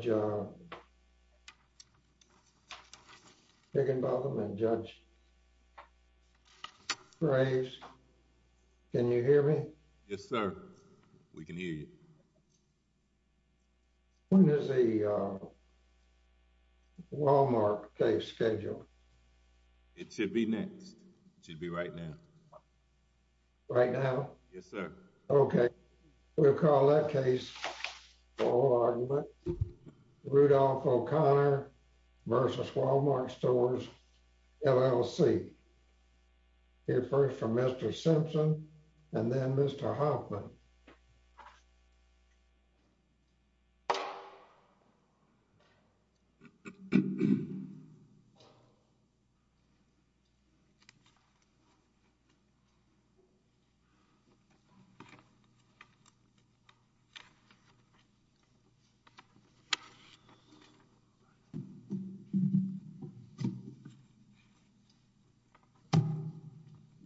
Judge Higginbotham and Judge Graves, can you hear me? Yes, sir. We can hear you. When is the Wal-Mart case scheduled? It should be next. It should be right now. Right now? Yes, sir. Okay. We'll call that case for oral argument. Rudolph O'Connor v. Wal-Mart Stores, LLC. We'll hear first from Mr. Simpson and then Mr. Hoffman.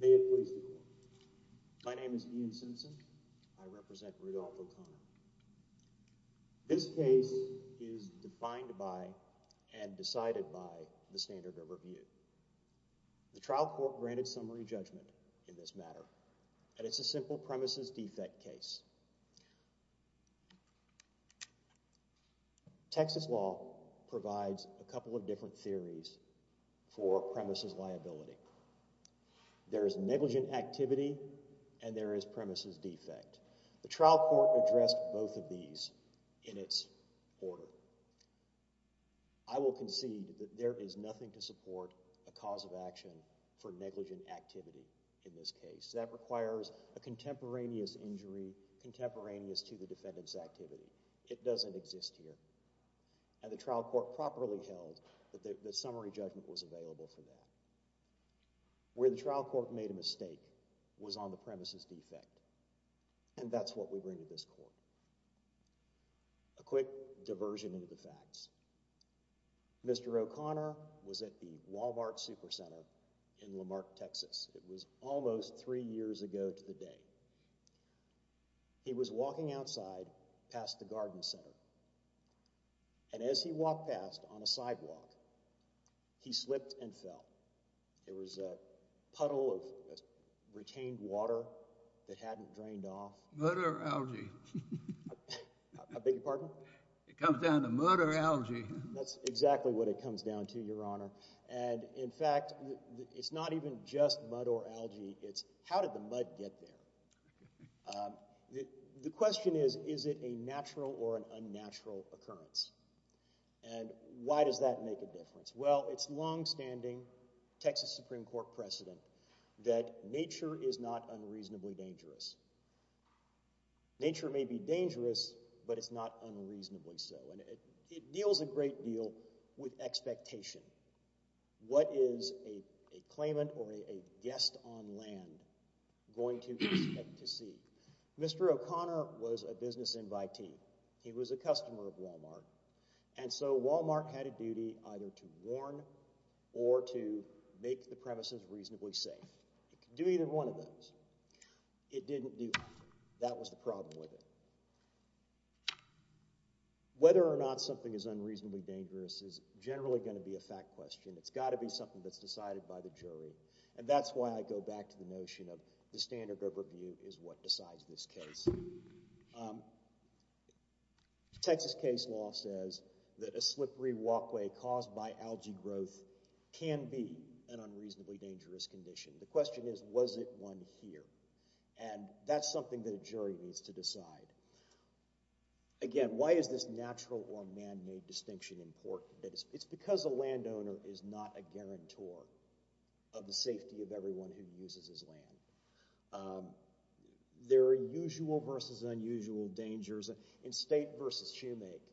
May it please the Court. My name is Ian Simpson. I represent Rudolph O'Connor. This case is defined by and decided by the standard of review. The trial court granted summary judgment in this matter, and it's a simple premises defect case. Texas law provides a couple of different theories for premises liability. There is negligent activity and there is premises defect. The trial court addressed both of these in its order. I will concede that there is nothing to support a cause of action for negligent activity in this case. That requires a contemporaneous injury, contemporaneous to the defendant's activity. It doesn't exist here. And the trial court properly held that the summary judgment was available for that. Where the trial court made a mistake was on the premises defect, and that's what we bring to this Court. A quick diversion into the facts. Mr. O'Connor was at the Wal-Mart Supercenter in Lamarck, Texas. It was almost three years ago to the day. He was walking outside past the garden center, and as he walked past on a sidewalk, he slipped and fell. It was a puddle of retained water that hadn't drained off. Mud or algae? I beg your pardon? It comes down to mud or algae. That's exactly what it comes down to, Your Honor. And, in fact, it's not even just mud or algae. It's how did the mud get there? The question is, is it a natural or an unnatural occurrence? And why does that make a difference? Well, it's longstanding Texas Supreme Court precedent that nature is not unreasonably dangerous. Nature may be dangerous, but it's not unreasonably so. And it deals a great deal with expectation. What is a claimant or a guest on land going to expect to see? Mr. O'Connor was a business invitee. He was a customer of Wal-Mart. And so Wal-Mart had a duty either to warn or to make the premises reasonably safe. It could do either one of those. It didn't do either. That was the problem with it. Whether or not something is unreasonably dangerous is generally going to be a fact question. It's got to be something that's decided by the jury. And that's why I go back to the notion of the standard of review is what decides this case. Texas case law says that a slippery walkway caused by algae growth can be an unreasonably dangerous condition. The question is, was it one here? And that's something that a jury needs to decide. Again, why is this natural or man-made distinction important? It's because a landowner is not a guarantor of the safety of everyone who uses his land. There are usual versus unusual dangers. In State v. Shoemake,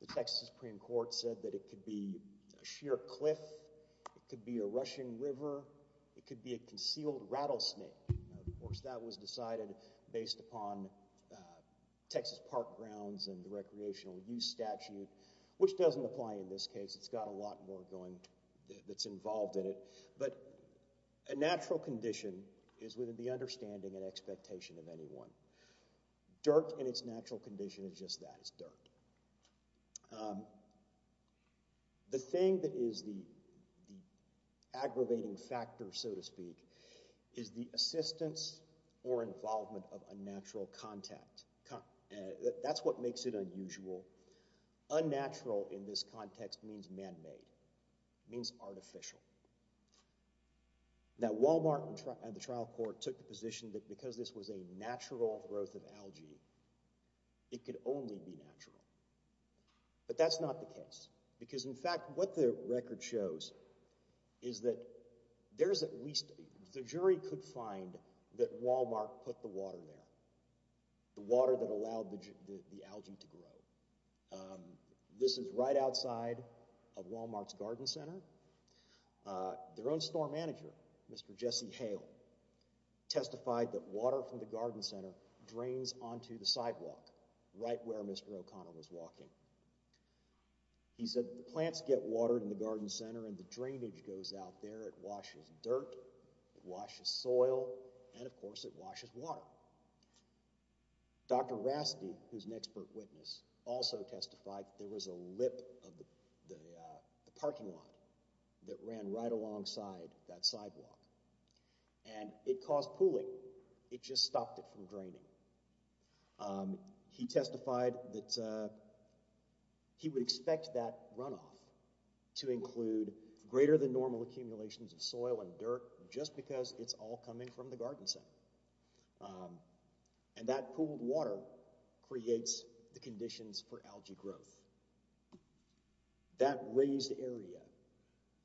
the Texas Supreme Court said that it could be a sheer cliff. It could be a rushing river. It could be a concealed rattlesnake. Of course, that was decided based upon Texas park grounds and the recreational use statute, which doesn't apply in this case. It's got a lot more going that's involved in it. But a natural condition is within the understanding and expectation of anyone. Dirt in its natural condition is just that, it's dirt. The thing that is the aggravating factor, so to speak, is the assistance or involvement of unnatural contact. That's what makes it unusual. Unnatural in this context means man-made. It means artificial. Now, Walmart and the trial court took the position that because this was a natural growth of algae, it could only be natural. But that's not the case. Because, in fact, what the record shows is that the jury could find that Walmart put the water there. The water that allowed the algae to grow. This is right outside of Walmart's garden center. Their own store manager, Mr. Jesse Hale, testified that water from the garden center drains onto the sidewalk, right where Mr. O'Connor was walking. He said the plants get watered in the garden center and the drainage goes out there. It washes dirt, it washes soil, and, of course, it washes water. Dr. Rasti, who is an expert witness, also testified that there was a lip of the parking lot that ran right alongside that sidewalk. And it caused pooling. It just stopped it from draining. He testified that he would expect that runoff to include greater than normal accumulations of soil and dirt just because it's all coming from the garden center. And that pooled water creates the conditions for algae growth. That raised area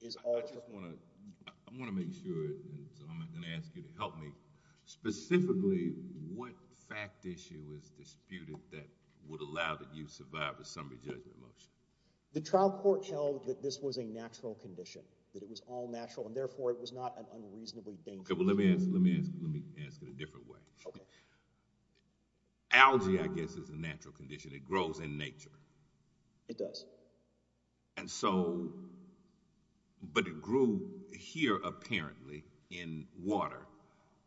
is all... I want to make sure, so I'm going to ask you to help me. Specifically, what fact issue is disputed that would allow that you survive a summary judgment motion? The trial court held that this was a natural condition. That it was all natural and, therefore, it was not an unreasonably dangerous... Okay, well, let me ask it a different way. Algae, I guess, is a natural condition. It grows in nature. It does. And so... But it grew here, apparently, in water,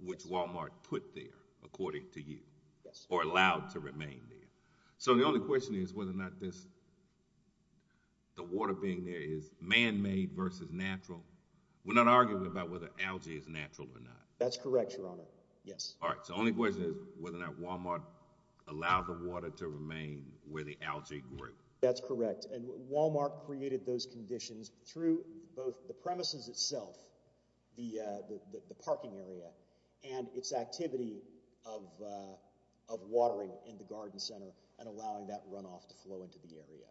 which Walmart put there, according to you, or allowed to remain there. So the only question is whether or not this... The water being there is man-made versus natural. We're not arguing about whether algae is natural or not. That's correct, Your Honor. Yes. All right. So the only question is whether or not Walmart allowed the water to remain where the algae grew. That's correct. And Walmart created those conditions through both the premises itself, the parking area, and its activity of watering in the garden center and allowing that runoff to flow into the area.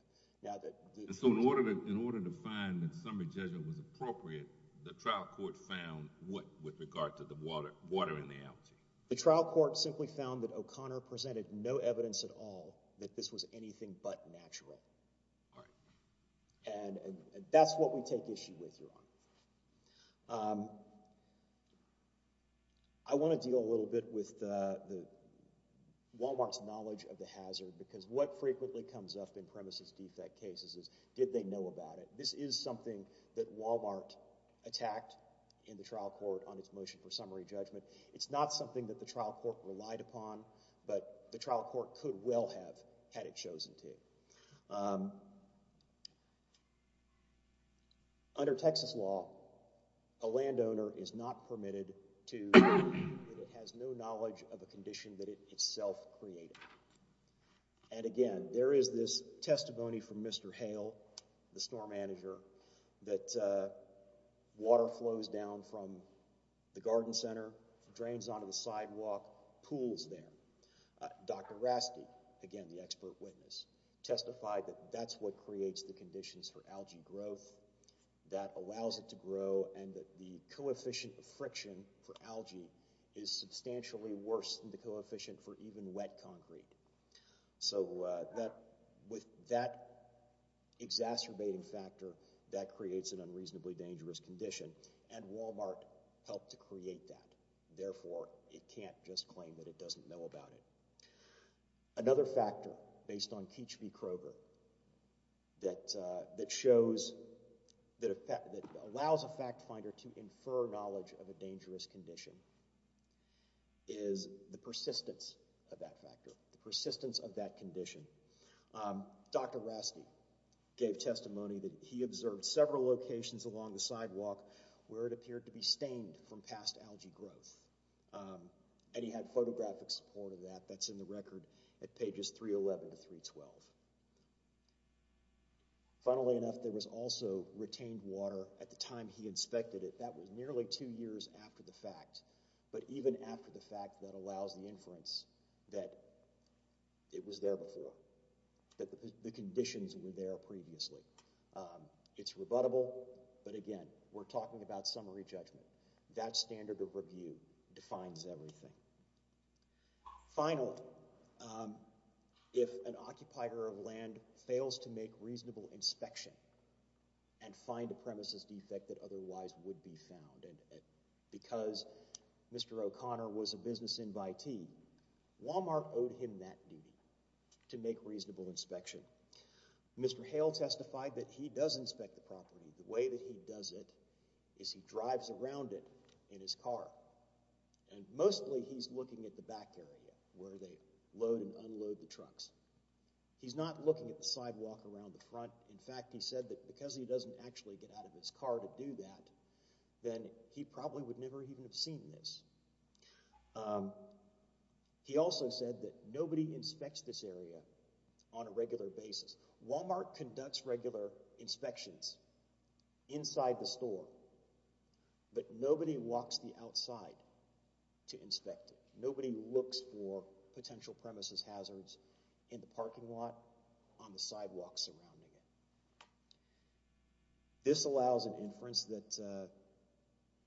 And so in order to find that summary judgment was appropriate, the trial court found what with regard to the watering the algae? The trial court simply found that O'Connor presented no evidence at all that this was anything but natural. All right. And that's what we take issue with, Your Honor. I want to deal a little bit with Walmart's knowledge of the hazard, because what frequently comes up in premises defect cases is, did they know about it? This is something that Walmart attacked in the trial court on its motion for summary judgment. It's not something that the trial court relied upon, but the trial court could well have had it chosen to. Under Texas law, a landowner is not permitted to – has no knowledge of a condition that it itself created. And again, there is this testimony from Mr. Hale, the store manager, that water flows down from the garden center, drains onto the sidewalk, pools there. Dr. Rasky, again, the expert witness, testified that that's what creates the conditions for algae growth, that allows it to grow, and that the coefficient of friction for algae is substantially worse than the coefficient for even wet concrete. So with that exacerbating factor, that creates an unreasonably dangerous condition, and Walmart helped to create that. And therefore, it can't just claim that it doesn't know about it. Another factor based on Keech v. Kroger that shows – that allows a fact finder to infer knowledge of a dangerous condition is the persistence of that factor, the persistence of that condition. Dr. Rasky gave testimony that he observed several locations along the sidewalk where it appeared to be stained from past algae growth. And he had photographic support of that. That's in the record at pages 311 to 312. Funnily enough, there was also retained water at the time he inspected it. That was nearly two years after the fact, but even after the fact, that allows the inference that it was there before, that the conditions were there previously. It's rebuttable, but again, we're talking about summary judgment. That standard of review defines everything. Finally, if an occupier of land fails to make reasonable inspection and find a premises defect that otherwise would be found, and because Mr. O'Connor was a business invitee, Walmart owed him that duty to make reasonable inspection. Mr. Hale testified that he does inspect the property. The way that he does it is he drives around it in his car. And mostly he's looking at the back area where they load and unload the trucks. He's not looking at the sidewalk around the front. In fact, he said that because he doesn't actually get out of his car to do that, then he probably would never even have seen this. He also said that nobody inspects this area on a regular basis. Walmart conducts regular inspections inside the store, but nobody walks the outside to inspect it. Nobody looks for potential premises hazards in the parking lot, on the sidewalk surrounding it. This allows an inference that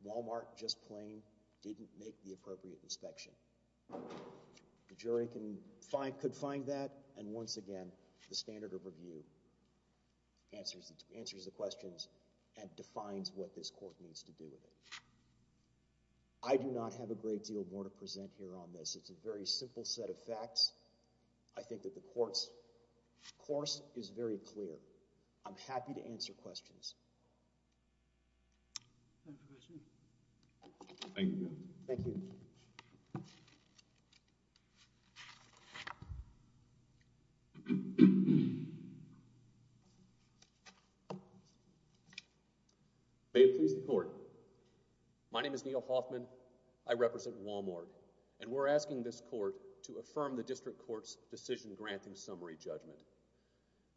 Walmart, just plain, didn't make the appropriate inspection. The jury could find that, and once again, the standard of review answers the questions and defines what this court needs to do with it. I do not have a great deal more to present here on this. It's a very simple set of facts. I think that the court's course is very clear. I'm happy to answer questions. Thank you. May it please the court. My name is Neil Hoffman. I represent Walmart. And we're asking this court to affirm the district court's decision-granting summary judgment.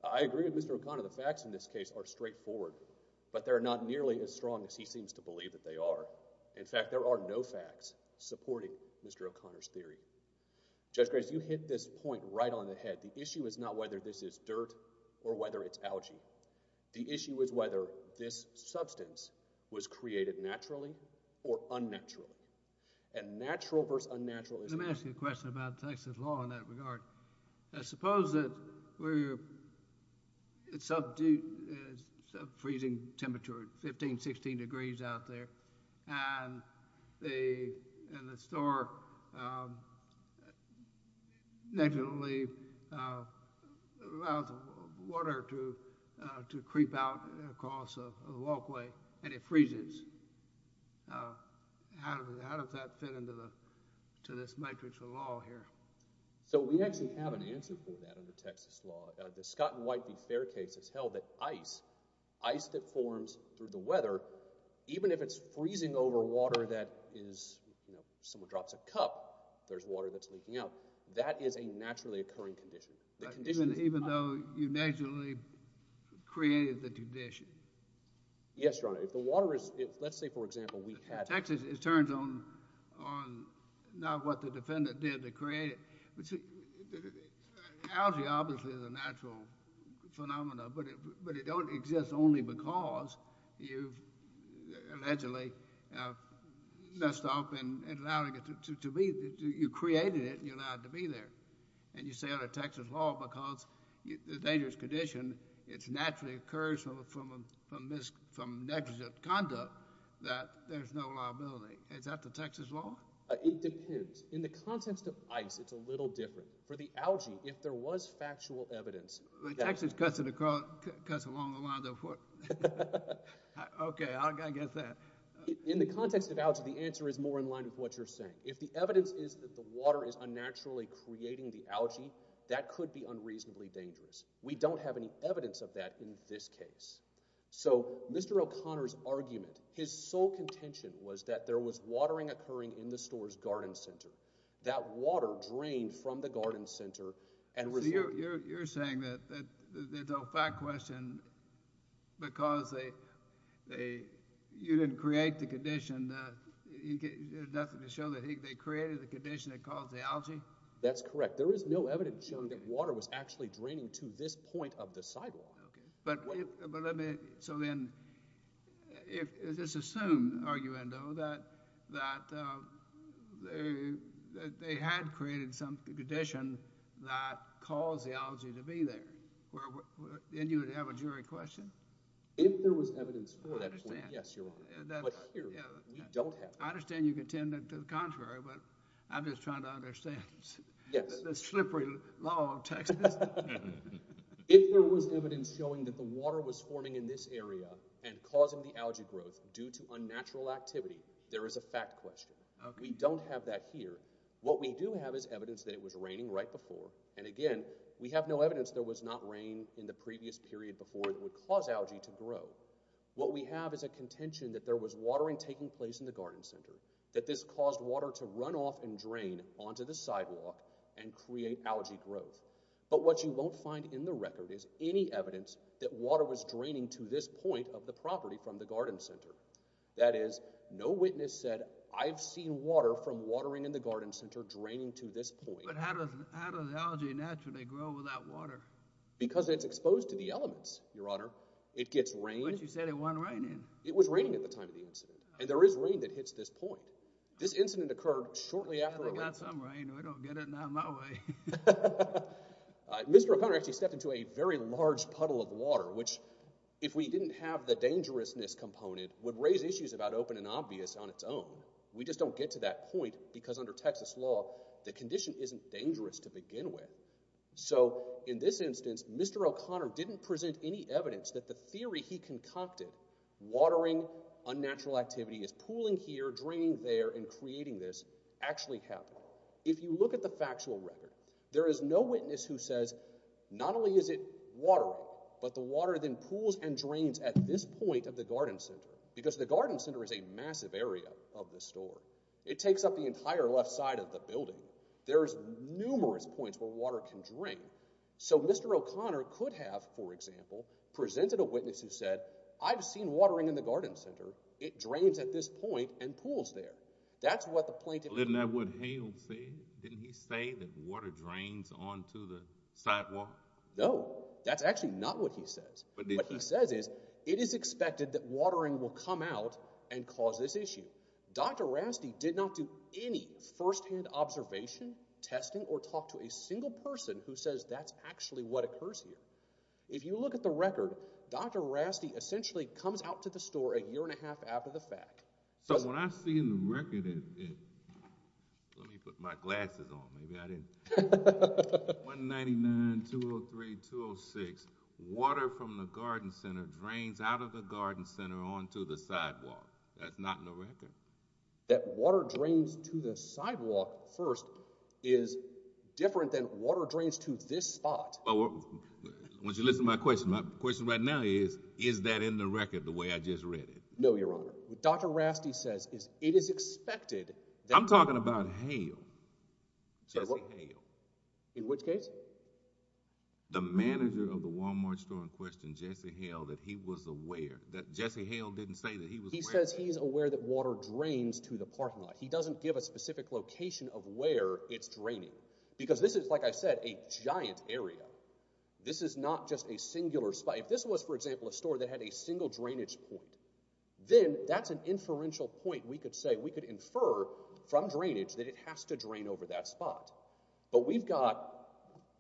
I agree with Mr. O'Connor. The facts in this case are straightforward. But they're not nearly as strong as he seems to believe that they are. In fact, there are no facts supporting Mr. O'Connor's theory. Judge Graves, you hit this point right on the head. The issue is not whether this is dirt or whether it's algae. The issue is whether this substance was created naturally or unnaturally. And natural versus unnatural is— Let me ask you a question about Texas law in that regard. I suppose that it's a freezing temperature, 15, 16 degrees out there. And the store naturally allows water to creep out across a walkway, and it freezes. How does that fit into this matrix of law here? So we actually have an answer for that under Texas law. The Scott and White v. Fair case has held that ice, ice that forms through the weather, even if it's freezing over water that is—someone drops a cup, there's water that's leaking out. That is a naturally occurring condition. Even though you naturally created the condition? Yes, Your Honor. If the water is—let's say, for example, we had— In Texas, it turns on not what the defendant did to create it. Algae obviously is a natural phenomenon, but it don't exist only because you've allegedly messed up in allowing it to be—you created it, and you allowed it to be there. And you say under Texas law, because the dangerous condition, it naturally occurs from negligent conduct that there's no liability. Is that the Texas law? It depends. In the context of ice, it's a little different. For the algae, if there was factual evidence— Well, Texas cuts along the lines of what— Okay, I got to get that. In the context of algae, the answer is more in line with what you're saying. If the evidence is that the water is unnaturally creating the algae, that could be unreasonably dangerous. We don't have any evidence of that in this case. So Mr. O'Connor's argument, his sole contention, was that there was watering occurring in the store's garden center. That water drained from the garden center and resulted— So you're saying that the fact question, because you didn't create the condition, there's nothing to show that they created the condition that caused the algae? That's correct. There is no evidence showing that water was actually draining to this point of the sidewalk. Okay, but let me—so then, is this assumed, arguendo, that they had created some condition that caused the algae to be there? Then you would have a jury question? If there was evidence for that point, yes, you're right. But here, we don't have evidence. I understand you contend to the contrary, but I'm just trying to understand the slippery law of Texas. If there was evidence showing that the water was forming in this area and causing the algae growth due to unnatural activity, there is a fact question. We don't have that here. What we do have is evidence that it was raining right before, and again, we have no evidence there was not rain in the previous period before that would cause algae to grow. What we have is a contention that there was watering taking place in the garden center, that this caused water to run off and drain onto the sidewalk and create algae growth. But what you won't find in the record is any evidence that water was draining to this point of the property from the garden center. That is, no witness said, I've seen water from watering in the garden center draining to this point. But how does algae naturally grow without water? Because it's exposed to the elements, Your Honor. It gets rain. But you said it wasn't raining. It was raining at the time of the incident, and there is rain that hits this point. This incident occurred shortly after. Well, it got some rain. I don't get it, not my way. Mr. O'Connor actually stepped into a very large puddle of water, which if we didn't have the dangerousness component would raise issues about open and obvious on its own. We just don't get to that point because under Texas law, the condition isn't dangerous to begin with. So in this instance, Mr. O'Connor didn't present any evidence that the theory he concocted, watering, unnatural activity is pooling here, draining there, and creating this, actually happened. If you look at the factual record, there is no witness who says not only is it watering, but the water then pools and drains at this point of the garden center because the garden center is a massive area of the store. It takes up the entire left side of the building. There's numerous points where water can drain. So Mr. O'Connor could have, for example, presented a witness who said, I've seen watering in the garden center. It drains at this point and pools there. That's what the plaintiff— Isn't that what Hale said? Didn't he say that water drains onto the sidewalk? No, that's actually not what he says. What he says is it is expected that watering will come out and cause this issue. Dr. Rasti did not do any firsthand observation, testing, or talk to a single person who says that's actually what occurs here. If you look at the record, Dr. Rasti essentially comes out to the store a year and a half after the fact. So what I see in the record is—let me put my glasses on. 199-203-206, water from the garden center drains out of the garden center onto the sidewalk. That's not in the record. That water drains to the sidewalk first is different than water drains to this spot. Well, would you listen to my question? My question right now is, is that in the record the way I just read it? No, Your Honor. What Dr. Rasti says is it is expected that— I'm talking about Hale, Jesse Hale. In which case? The manager of the Walmart store in question, Jesse Hale, that he was aware. He says he's aware that water drains to the parking lot. He doesn't give a specific location of where it's draining. Because this is, like I said, a giant area. This is not just a singular spot. If this was, for example, a store that had a single drainage point, then that's an inferential point we could say. We could infer from drainage that it has to drain over that spot. But we've got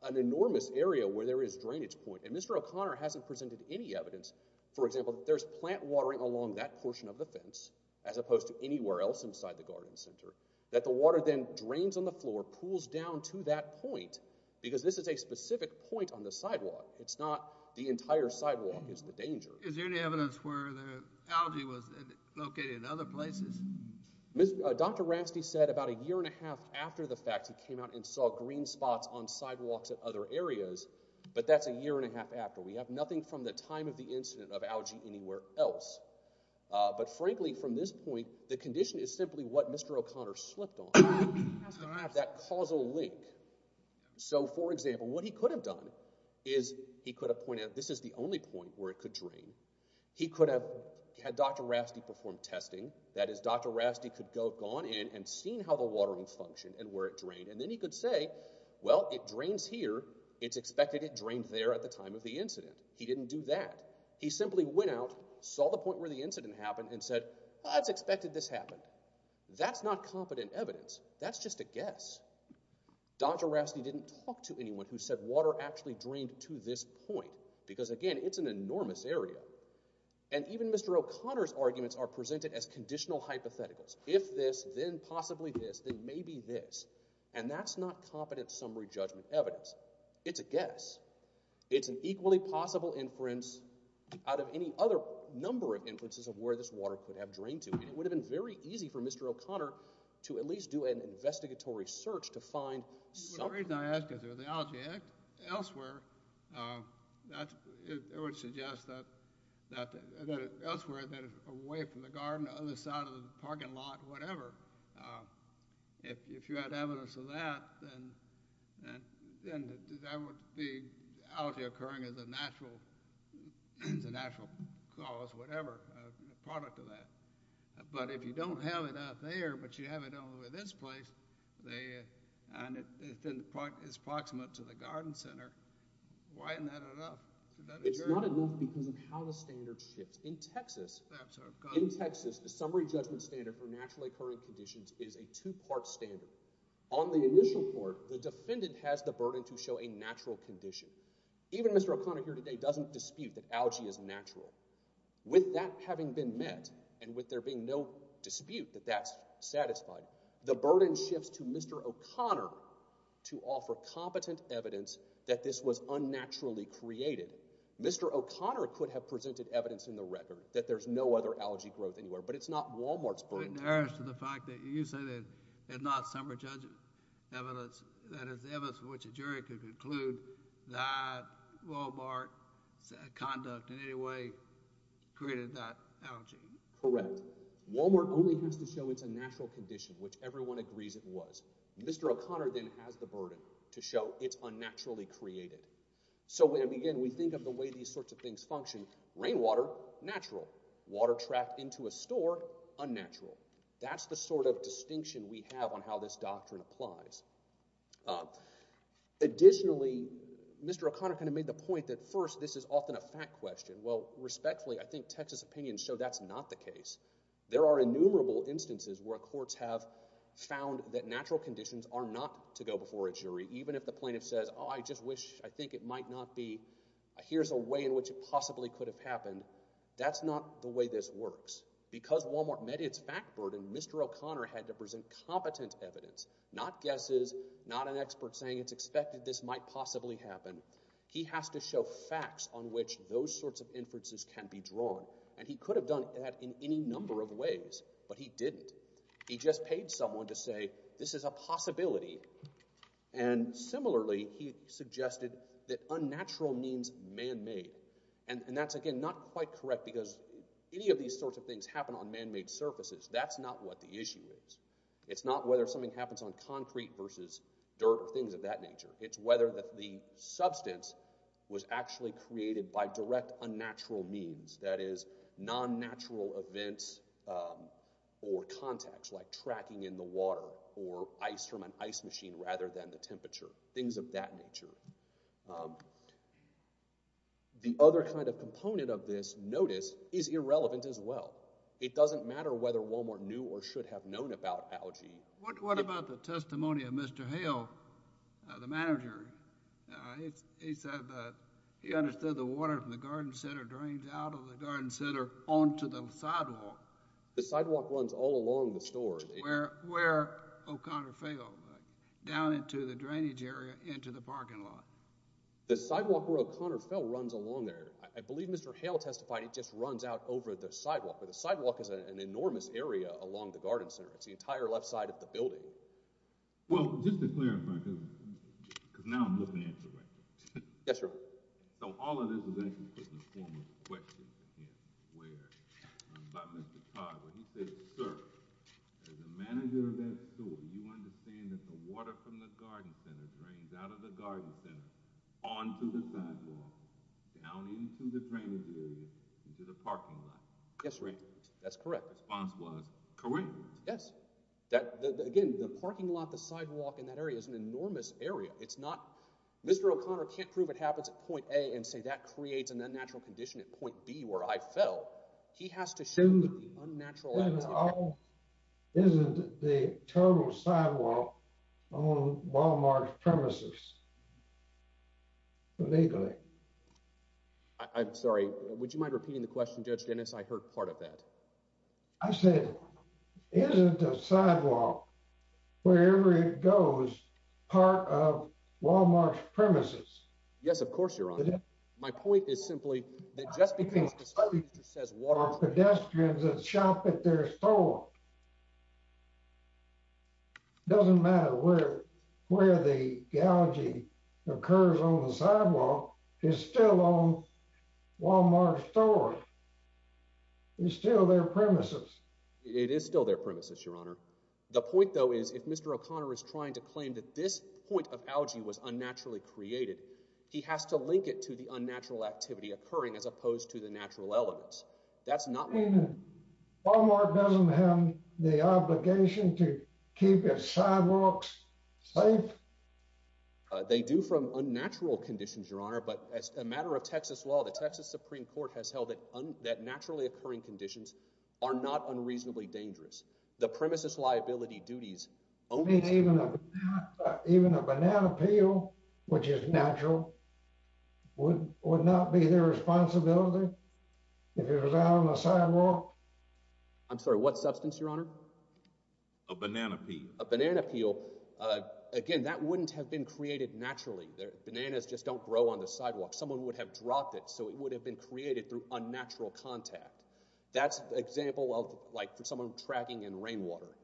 an enormous area where there is drainage point, and Mr. O'Connor hasn't presented any evidence, for example, that there's plant watering along that portion of the fence, as opposed to anywhere else inside the garden center, that the water then drains on the floor, pools down to that point, because this is a specific point on the sidewalk. It's not the entire sidewalk is the danger. Is there any evidence where the algae was located in other places? Dr. Rasti said about a year and a half after the fact he came out and saw green spots on sidewalks at other areas, but that's a year and a half after. We have nothing from the time of the incident of algae anywhere else. But frankly, from this point, the condition is simply what Mr. O'Connor slipped on, that causal link. So, for example, what he could have done is he could have pointed out this is the only point where it could drain. He could have had Dr. Rasti perform testing. That is, Dr. Rasti could have gone in and seen how the watering functioned and where it drained, and then he could say, well, it drains here. It's expected it drained there at the time of the incident. He didn't do that. He simply went out, saw the point where the incident happened, and said, well, it's expected this happened. That's not confident evidence. That's just a guess. Dr. Rasti didn't talk to anyone who said water actually drained to this point, because, again, it's an enormous area. And even Mr. O'Connor's arguments are presented as conditional hypotheticals. If this, then possibly this, then maybe this. And that's not confident summary judgment evidence. It's a guess. It's an equally possible inference out of any other number of inferences of where this water could have drained to, and it would have been very easy for Mr. O'Connor to at least do an investigatory search to find something. The reason I ask is, if the algae is elsewhere, it would suggest that elsewhere, away from the garden, the other side of the parking lot, whatever, if you had evidence of that, then that would be algae occurring as a natural cause, whatever, a product of that. But if you don't have it out there, but you have it only in this place, and it's approximate to the garden center, why isn't that enough? It's not enough because of how the standards shift. In Texas, the summary judgment standard for naturally occurring conditions is a two-part standard. On the initial court, the defendant has the burden to show a natural condition. Even Mr. O'Connor here today doesn't dispute that algae is natural. With that having been met, and with there being no dispute that that's satisfied, the burden shifts to Mr. O'Connor to offer competent evidence that this was unnaturally created. Mr. O'Connor could have presented evidence in the record that there's no other algae growth anywhere, but it's not Wal-Mart's burden. Correct. Wal-Mart only has to show it's a natural condition, which everyone agrees it was. Mr. O'Connor then has the burden to show it's unnaturally created. So again, we think of the way these sorts of things function. Rainwater, natural. Water trapped into a store, unnatural. That's the sort of distinction we have on how this doctrine applies. Additionally, Mr. O'Connor kind of made the point that first, this is often a fact question. Well, respectfully, I think Texas opinions show that's not the case. There are innumerable instances where courts have found that natural conditions are not to go before a jury, even if the plaintiff says, oh, I just wish, I think it might not be, here's a way in which it possibly could have happened. That's not the way this works. Because Wal-Mart met its fact burden, Mr. O'Connor had to present competent evidence, not guesses, not an expert saying it's expected this might possibly happen. He has to show facts on which those sorts of inferences can be drawn, and he could have done that in any number of ways, but he didn't. He just paid someone to say, this is a possibility, and similarly, he suggested that unnatural means man-made. And that's, again, not quite correct because any of these sorts of things happen on man-made surfaces. That's not what the issue is. It's not whether something happens on concrete versus dirt or things of that nature. It's whether the substance was actually created by direct unnatural means, that is, non-natural events or context, like tracking in the water or ice from an ice machine rather than the temperature, things of that nature. The other kind of component of this, notice, is irrelevant as well. It doesn't matter whether Wal-Mart knew or should have known about algae. What about the testimony of Mr. Hale, the manager? He said that he understood the water from the garden center drains out of the garden center onto the sidewalk. The sidewalk runs all along the store. Where O'Connor fell, down into the drainage area, into the parking lot. The sidewalk where O'Connor fell runs along there. I believe Mr. Hale testified it just runs out over the sidewalk, but the sidewalk is an enormous area along the garden center. It's the entire left side of the building. Well, just to clarify, because now I'm looking at the record. Yes, sir. So all of this is actually just a form of question, run by Mr. Todd, where he says, sir, as a manager of that store, you understand that the water from the garden center drains out of the garden center onto the sidewalk, down into the drainage area, into the parking lot. Yes, Ray. That's correct. The response was correct. Yes. Again, the parking lot, the sidewalk in that area is an enormous area. Mr. O'Connor can't prove it happens at point A and say that creates an unnatural condition at point B where I fell. He has to show the unnatural. Isn't the total sidewalk on Wal-Mart's premises legally? I'm sorry. Would you mind repeating the question, Judge Dennis? I heard part of that. I said, isn't the sidewalk, wherever it goes, part of Wal-Mart's premises? Yes, of course, Your Honor. My point is simply that just because the street says water… Pedestrians that shop at their store. It doesn't matter where the algae occurs on the sidewalk. It's still on Wal-Mart's store. It's still their premises. It is still their premises, Your Honor. The point, though, is if Mr. O'Connor is trying to claim that this point of algae was unnaturally created, he has to link it to the unnatural activity occurring as opposed to the natural elements. Wal-Mart doesn't have the obligation to keep its sidewalks safe? They do from unnatural conditions, Your Honor. But as a matter of Texas law, the Texas Supreme Court has held that naturally occurring conditions are not unreasonably dangerous. Even a banana peel, which is natural, would not be their responsibility if it was out on the sidewalk? I'm sorry, what substance, Your Honor? A banana peel. A banana peel, again, that wouldn't have been created naturally. Bananas just don't grow on the sidewalk. Someone would have dropped it, so it would have been created through unnatural contact. That's an example of someone tracking in rainwater.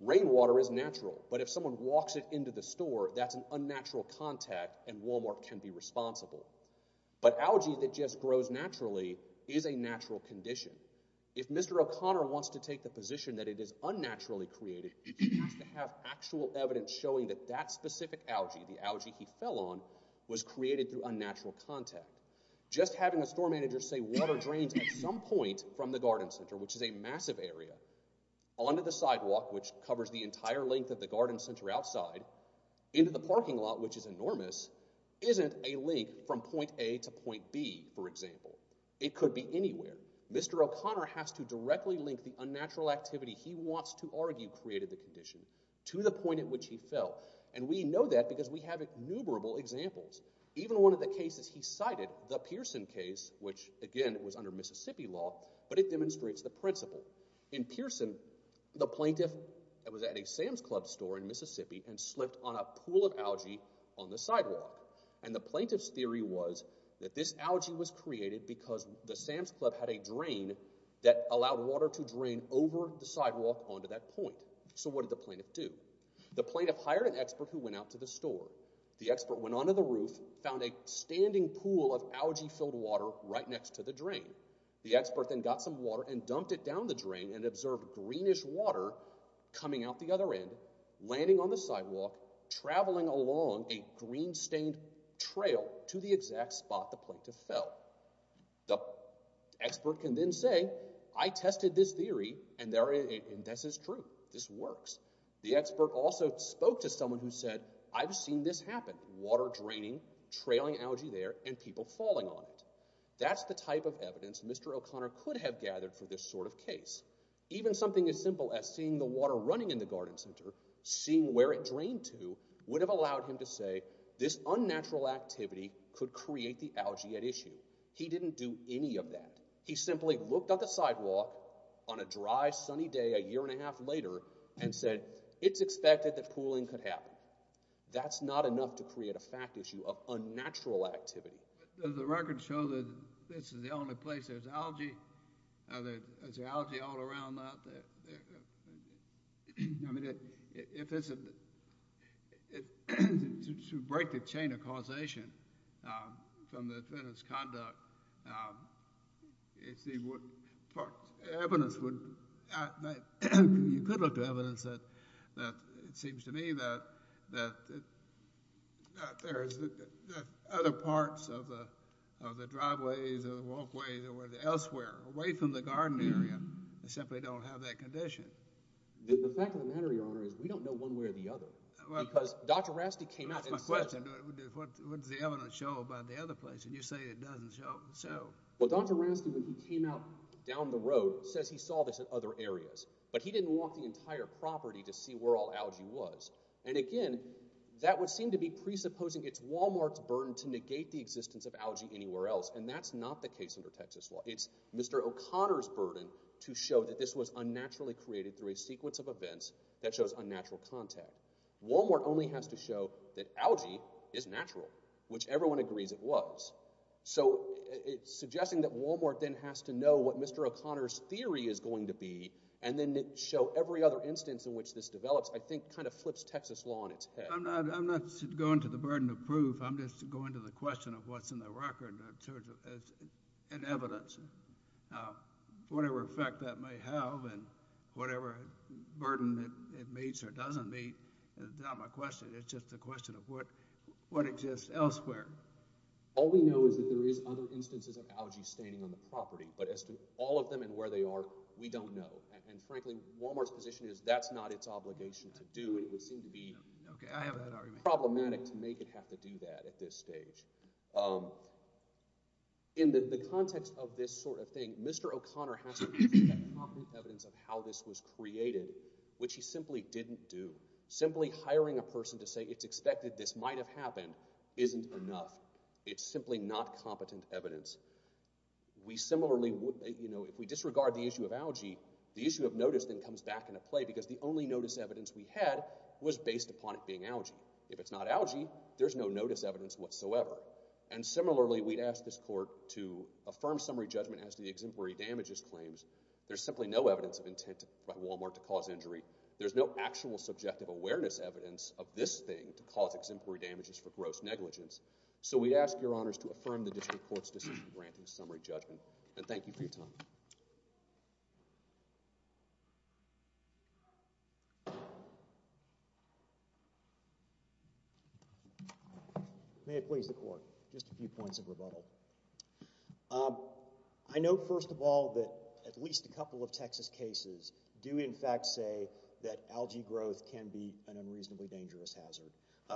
Rainwater is natural, but if someone walks it into the store, that's an unnatural contact, and Wal-Mart can be responsible. But algae that just grows naturally is a natural condition. If Mr. O'Connor wants to take the position that it is unnaturally created, he has to have actual evidence showing that that specific algae, the algae he fell on, was created through unnatural contact. Just having a store manager say water drains at some point from the garden center, which is a massive area, onto the sidewalk, which covers the entire length of the garden center outside, into the parking lot, which is enormous, isn't a link from point A to point B, for example. It could be anywhere. Mr. O'Connor has to directly link the unnatural activity he wants to argue created the condition to the point at which he fell, and we know that because we have innumerable examples. Even one of the cases he cited, the Pearson case, which again was under Mississippi law, but it demonstrates the principle. In Pearson, the plaintiff was at a Sam's Club store in Mississippi and slipped on a pool of algae on the sidewalk, and the plaintiff's theory was that this algae was created because the Sam's Club had a drain that allowed water to drain over the sidewalk onto that point. So what did the plaintiff do? The plaintiff hired an expert who went out to the store. The expert went onto the roof, found a standing pool of algae-filled water right next to the drain. The expert then got some water and dumped it down the drain and observed greenish water coming out the other end, landing on the sidewalk, traveling along a green-stained trail to the exact spot the plaintiff fell. The expert can then say, I tested this theory, and this is true. This works. The expert also spoke to someone who said, I've seen this happen, water draining, trailing algae there, and people falling on it. That's the type of evidence Mr. O'Connor could have gathered for this sort of case. Even something as simple as seeing the water running in the garden center, seeing where it drained to, would have allowed him to say this unnatural activity could create the algae at issue. He didn't do any of that. He simply looked on the sidewalk on a dry, sunny day a year and a half later and said, it's expected that pooling could happen. That's not enough to create a fact issue of unnatural activity. Does the record show that this is the only place there's algae? Is there algae all around that? I mean, to break the chain of causation from the defendant's conduct, you could look to evidence that, it seems to me, that there's other parts of the driveways or the walkways or elsewhere, away from the garden area, that simply don't have that condition. The fact of the matter, Your Honor, is we don't know one way or the other. Because Dr. Rasti came out and said that. What does the evidence show about the other place? And you say it doesn't show. Well, Dr. Rasti, when he came out down the road, says he saw this in other areas. But he didn't walk the entire property to see where all algae was. And again, that would seem to be presupposing it's Walmart's burden to negate the existence of algae anywhere else. And that's not the case under Texas law. It's Mr. O'Connor's burden to show that this was unnaturally created through a sequence of events that shows unnatural content. Walmart only has to show that algae is natural, which everyone agrees it was. So suggesting that Walmart then has to know what Mr. O'Connor's theory is going to be and then show every other instance in which this develops, I think kind of flips Texas law on its head. I'm not going to the burden of proof. I'm just going to the question of what's in the record in terms of evidence. Now, whatever effect that may have and whatever burden it meets or doesn't meet is not my question. It's just a question of what exists elsewhere. All we know is that there is other instances of algae standing on the property. But as to all of them and where they are, we don't know. And frankly, Walmart's position is that's not its obligation to do. It would seem to be problematic to make it have to do that at this stage. In the context of this sort of thing, Mr. O'Connor has to present that competent evidence of how this was created, which he simply didn't do. Simply hiring a person to say it's expected this might have happened isn't enough. It's simply not competent evidence. We similarly would, you know, if we disregard the issue of algae, the issue of notice then comes back into play because the only notice evidence we had was based upon it being algae. If it's not algae, there's no notice evidence whatsoever. And similarly, we'd ask this court to affirm summary judgment as to the exemplary damages claims. There's simply no evidence of intent by Walmart to cause injury. There's no actual subjective awareness evidence of this thing to cause exemplary damages for gross negligence. So we ask your honors to affirm the district court's decision in granting summary judgment. And thank you for your time. May it please the court. Just a few points of rebuttal. I note, first of all, that at least a couple of Texas cases do in fact say that algae growth can be an unreasonably dangerous hazard.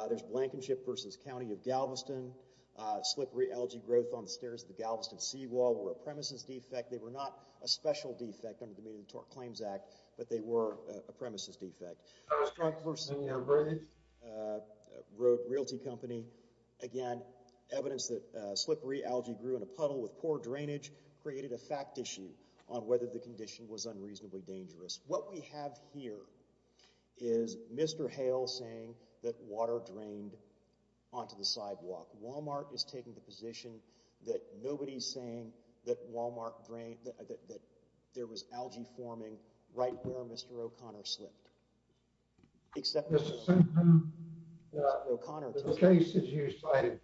There's Blankenship v. County of Galveston. Slippery algae growth on the stairs of the Galveston seawall were a premises defect. They were not a special defect under the Community Claims Act, but they were a premises defect. Struck v. New York Bridge, a realty company. Again, evidence that slippery algae grew in a puddle with poor drainage created a fact issue on whether the condition was unreasonably dangerous. What we have here is Mr. Hale saying that water drained onto the sidewalk. Walmart is taking the position that nobody's saying that Walmart drained, that there was algae forming right where Mr. O'Connor slipped. Mr. Simpson, the cases you cited,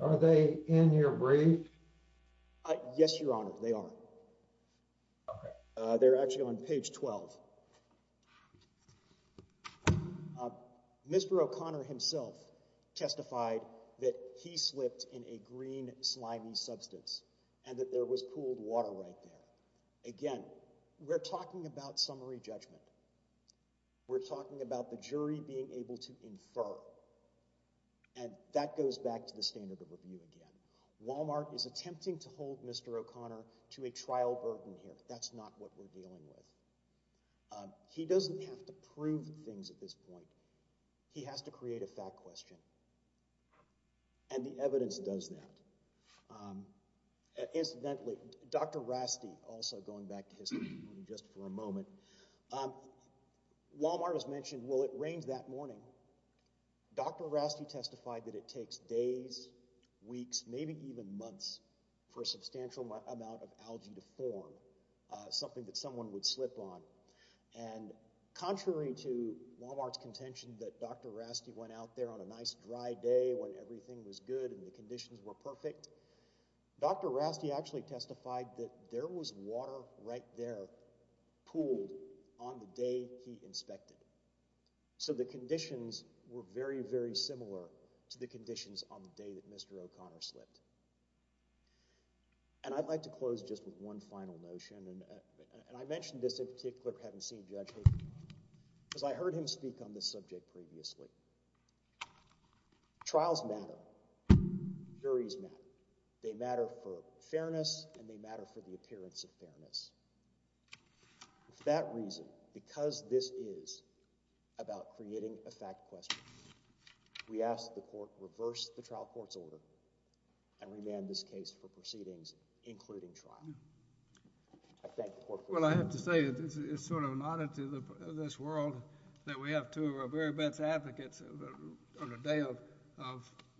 are they in your brief? Yes, Your Honor, they are. They're actually on page 12. Mr. O'Connor himself testified that he slipped in a green slimy substance and that there was cooled water right there. Again, we're talking about summary judgment. We're talking about the jury being able to infer, and that goes back to the standard of review again. Walmart is attempting to hold Mr. O'Connor to a trial burden here. That's not what we're dealing with. He doesn't have to prove things at this point. He has to create a fact question, and the evidence does that. Incidentally, Dr. Rasti, also going back to history just for a moment, Walmart has mentioned, well, it rains that morning. Dr. Rasti testified that it takes days, weeks, maybe even months for a substantial amount of algae to form, something that someone would slip on. Contrary to Walmart's contention that Dr. Rasti went out there on a nice dry day when everything was good and the conditions were perfect, Dr. Rasti actually testified that there was water right there pooled on the day he inspected. So the conditions were very, very similar to the conditions on the day that Mr. O'Connor slipped. And I'd like to close just with one final notion, and I mention this in particular having seen Judge Hayden, because I heard him speak on this subject previously. Trials matter. Juries matter. They matter for fairness, and they matter for the appearance of fairness. For that reason, because this is about creating a fact question, we ask that the Court reverse the trial court's order and remand this case for proceedings, including trial. I thank the Court for that. Well, I have to say, it's sort of an oddity in this world that we have two of our very best advocates on a day of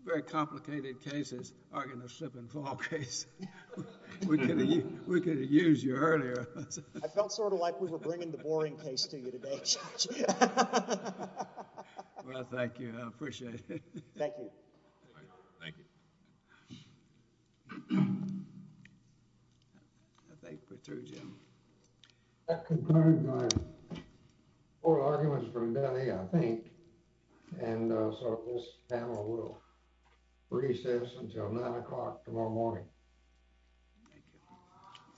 very complicated cases arguing a slip and fall case. We could have used you earlier. I felt sort of like we were bringing the boring case to you today, Judge. Well, thank you. I appreciate it. Thank you. Thank you. I think we're through, Jim. That concludes our oral arguments for the day, I think. And so this panel will recess until 9 o'clock tomorrow morning. Thank you.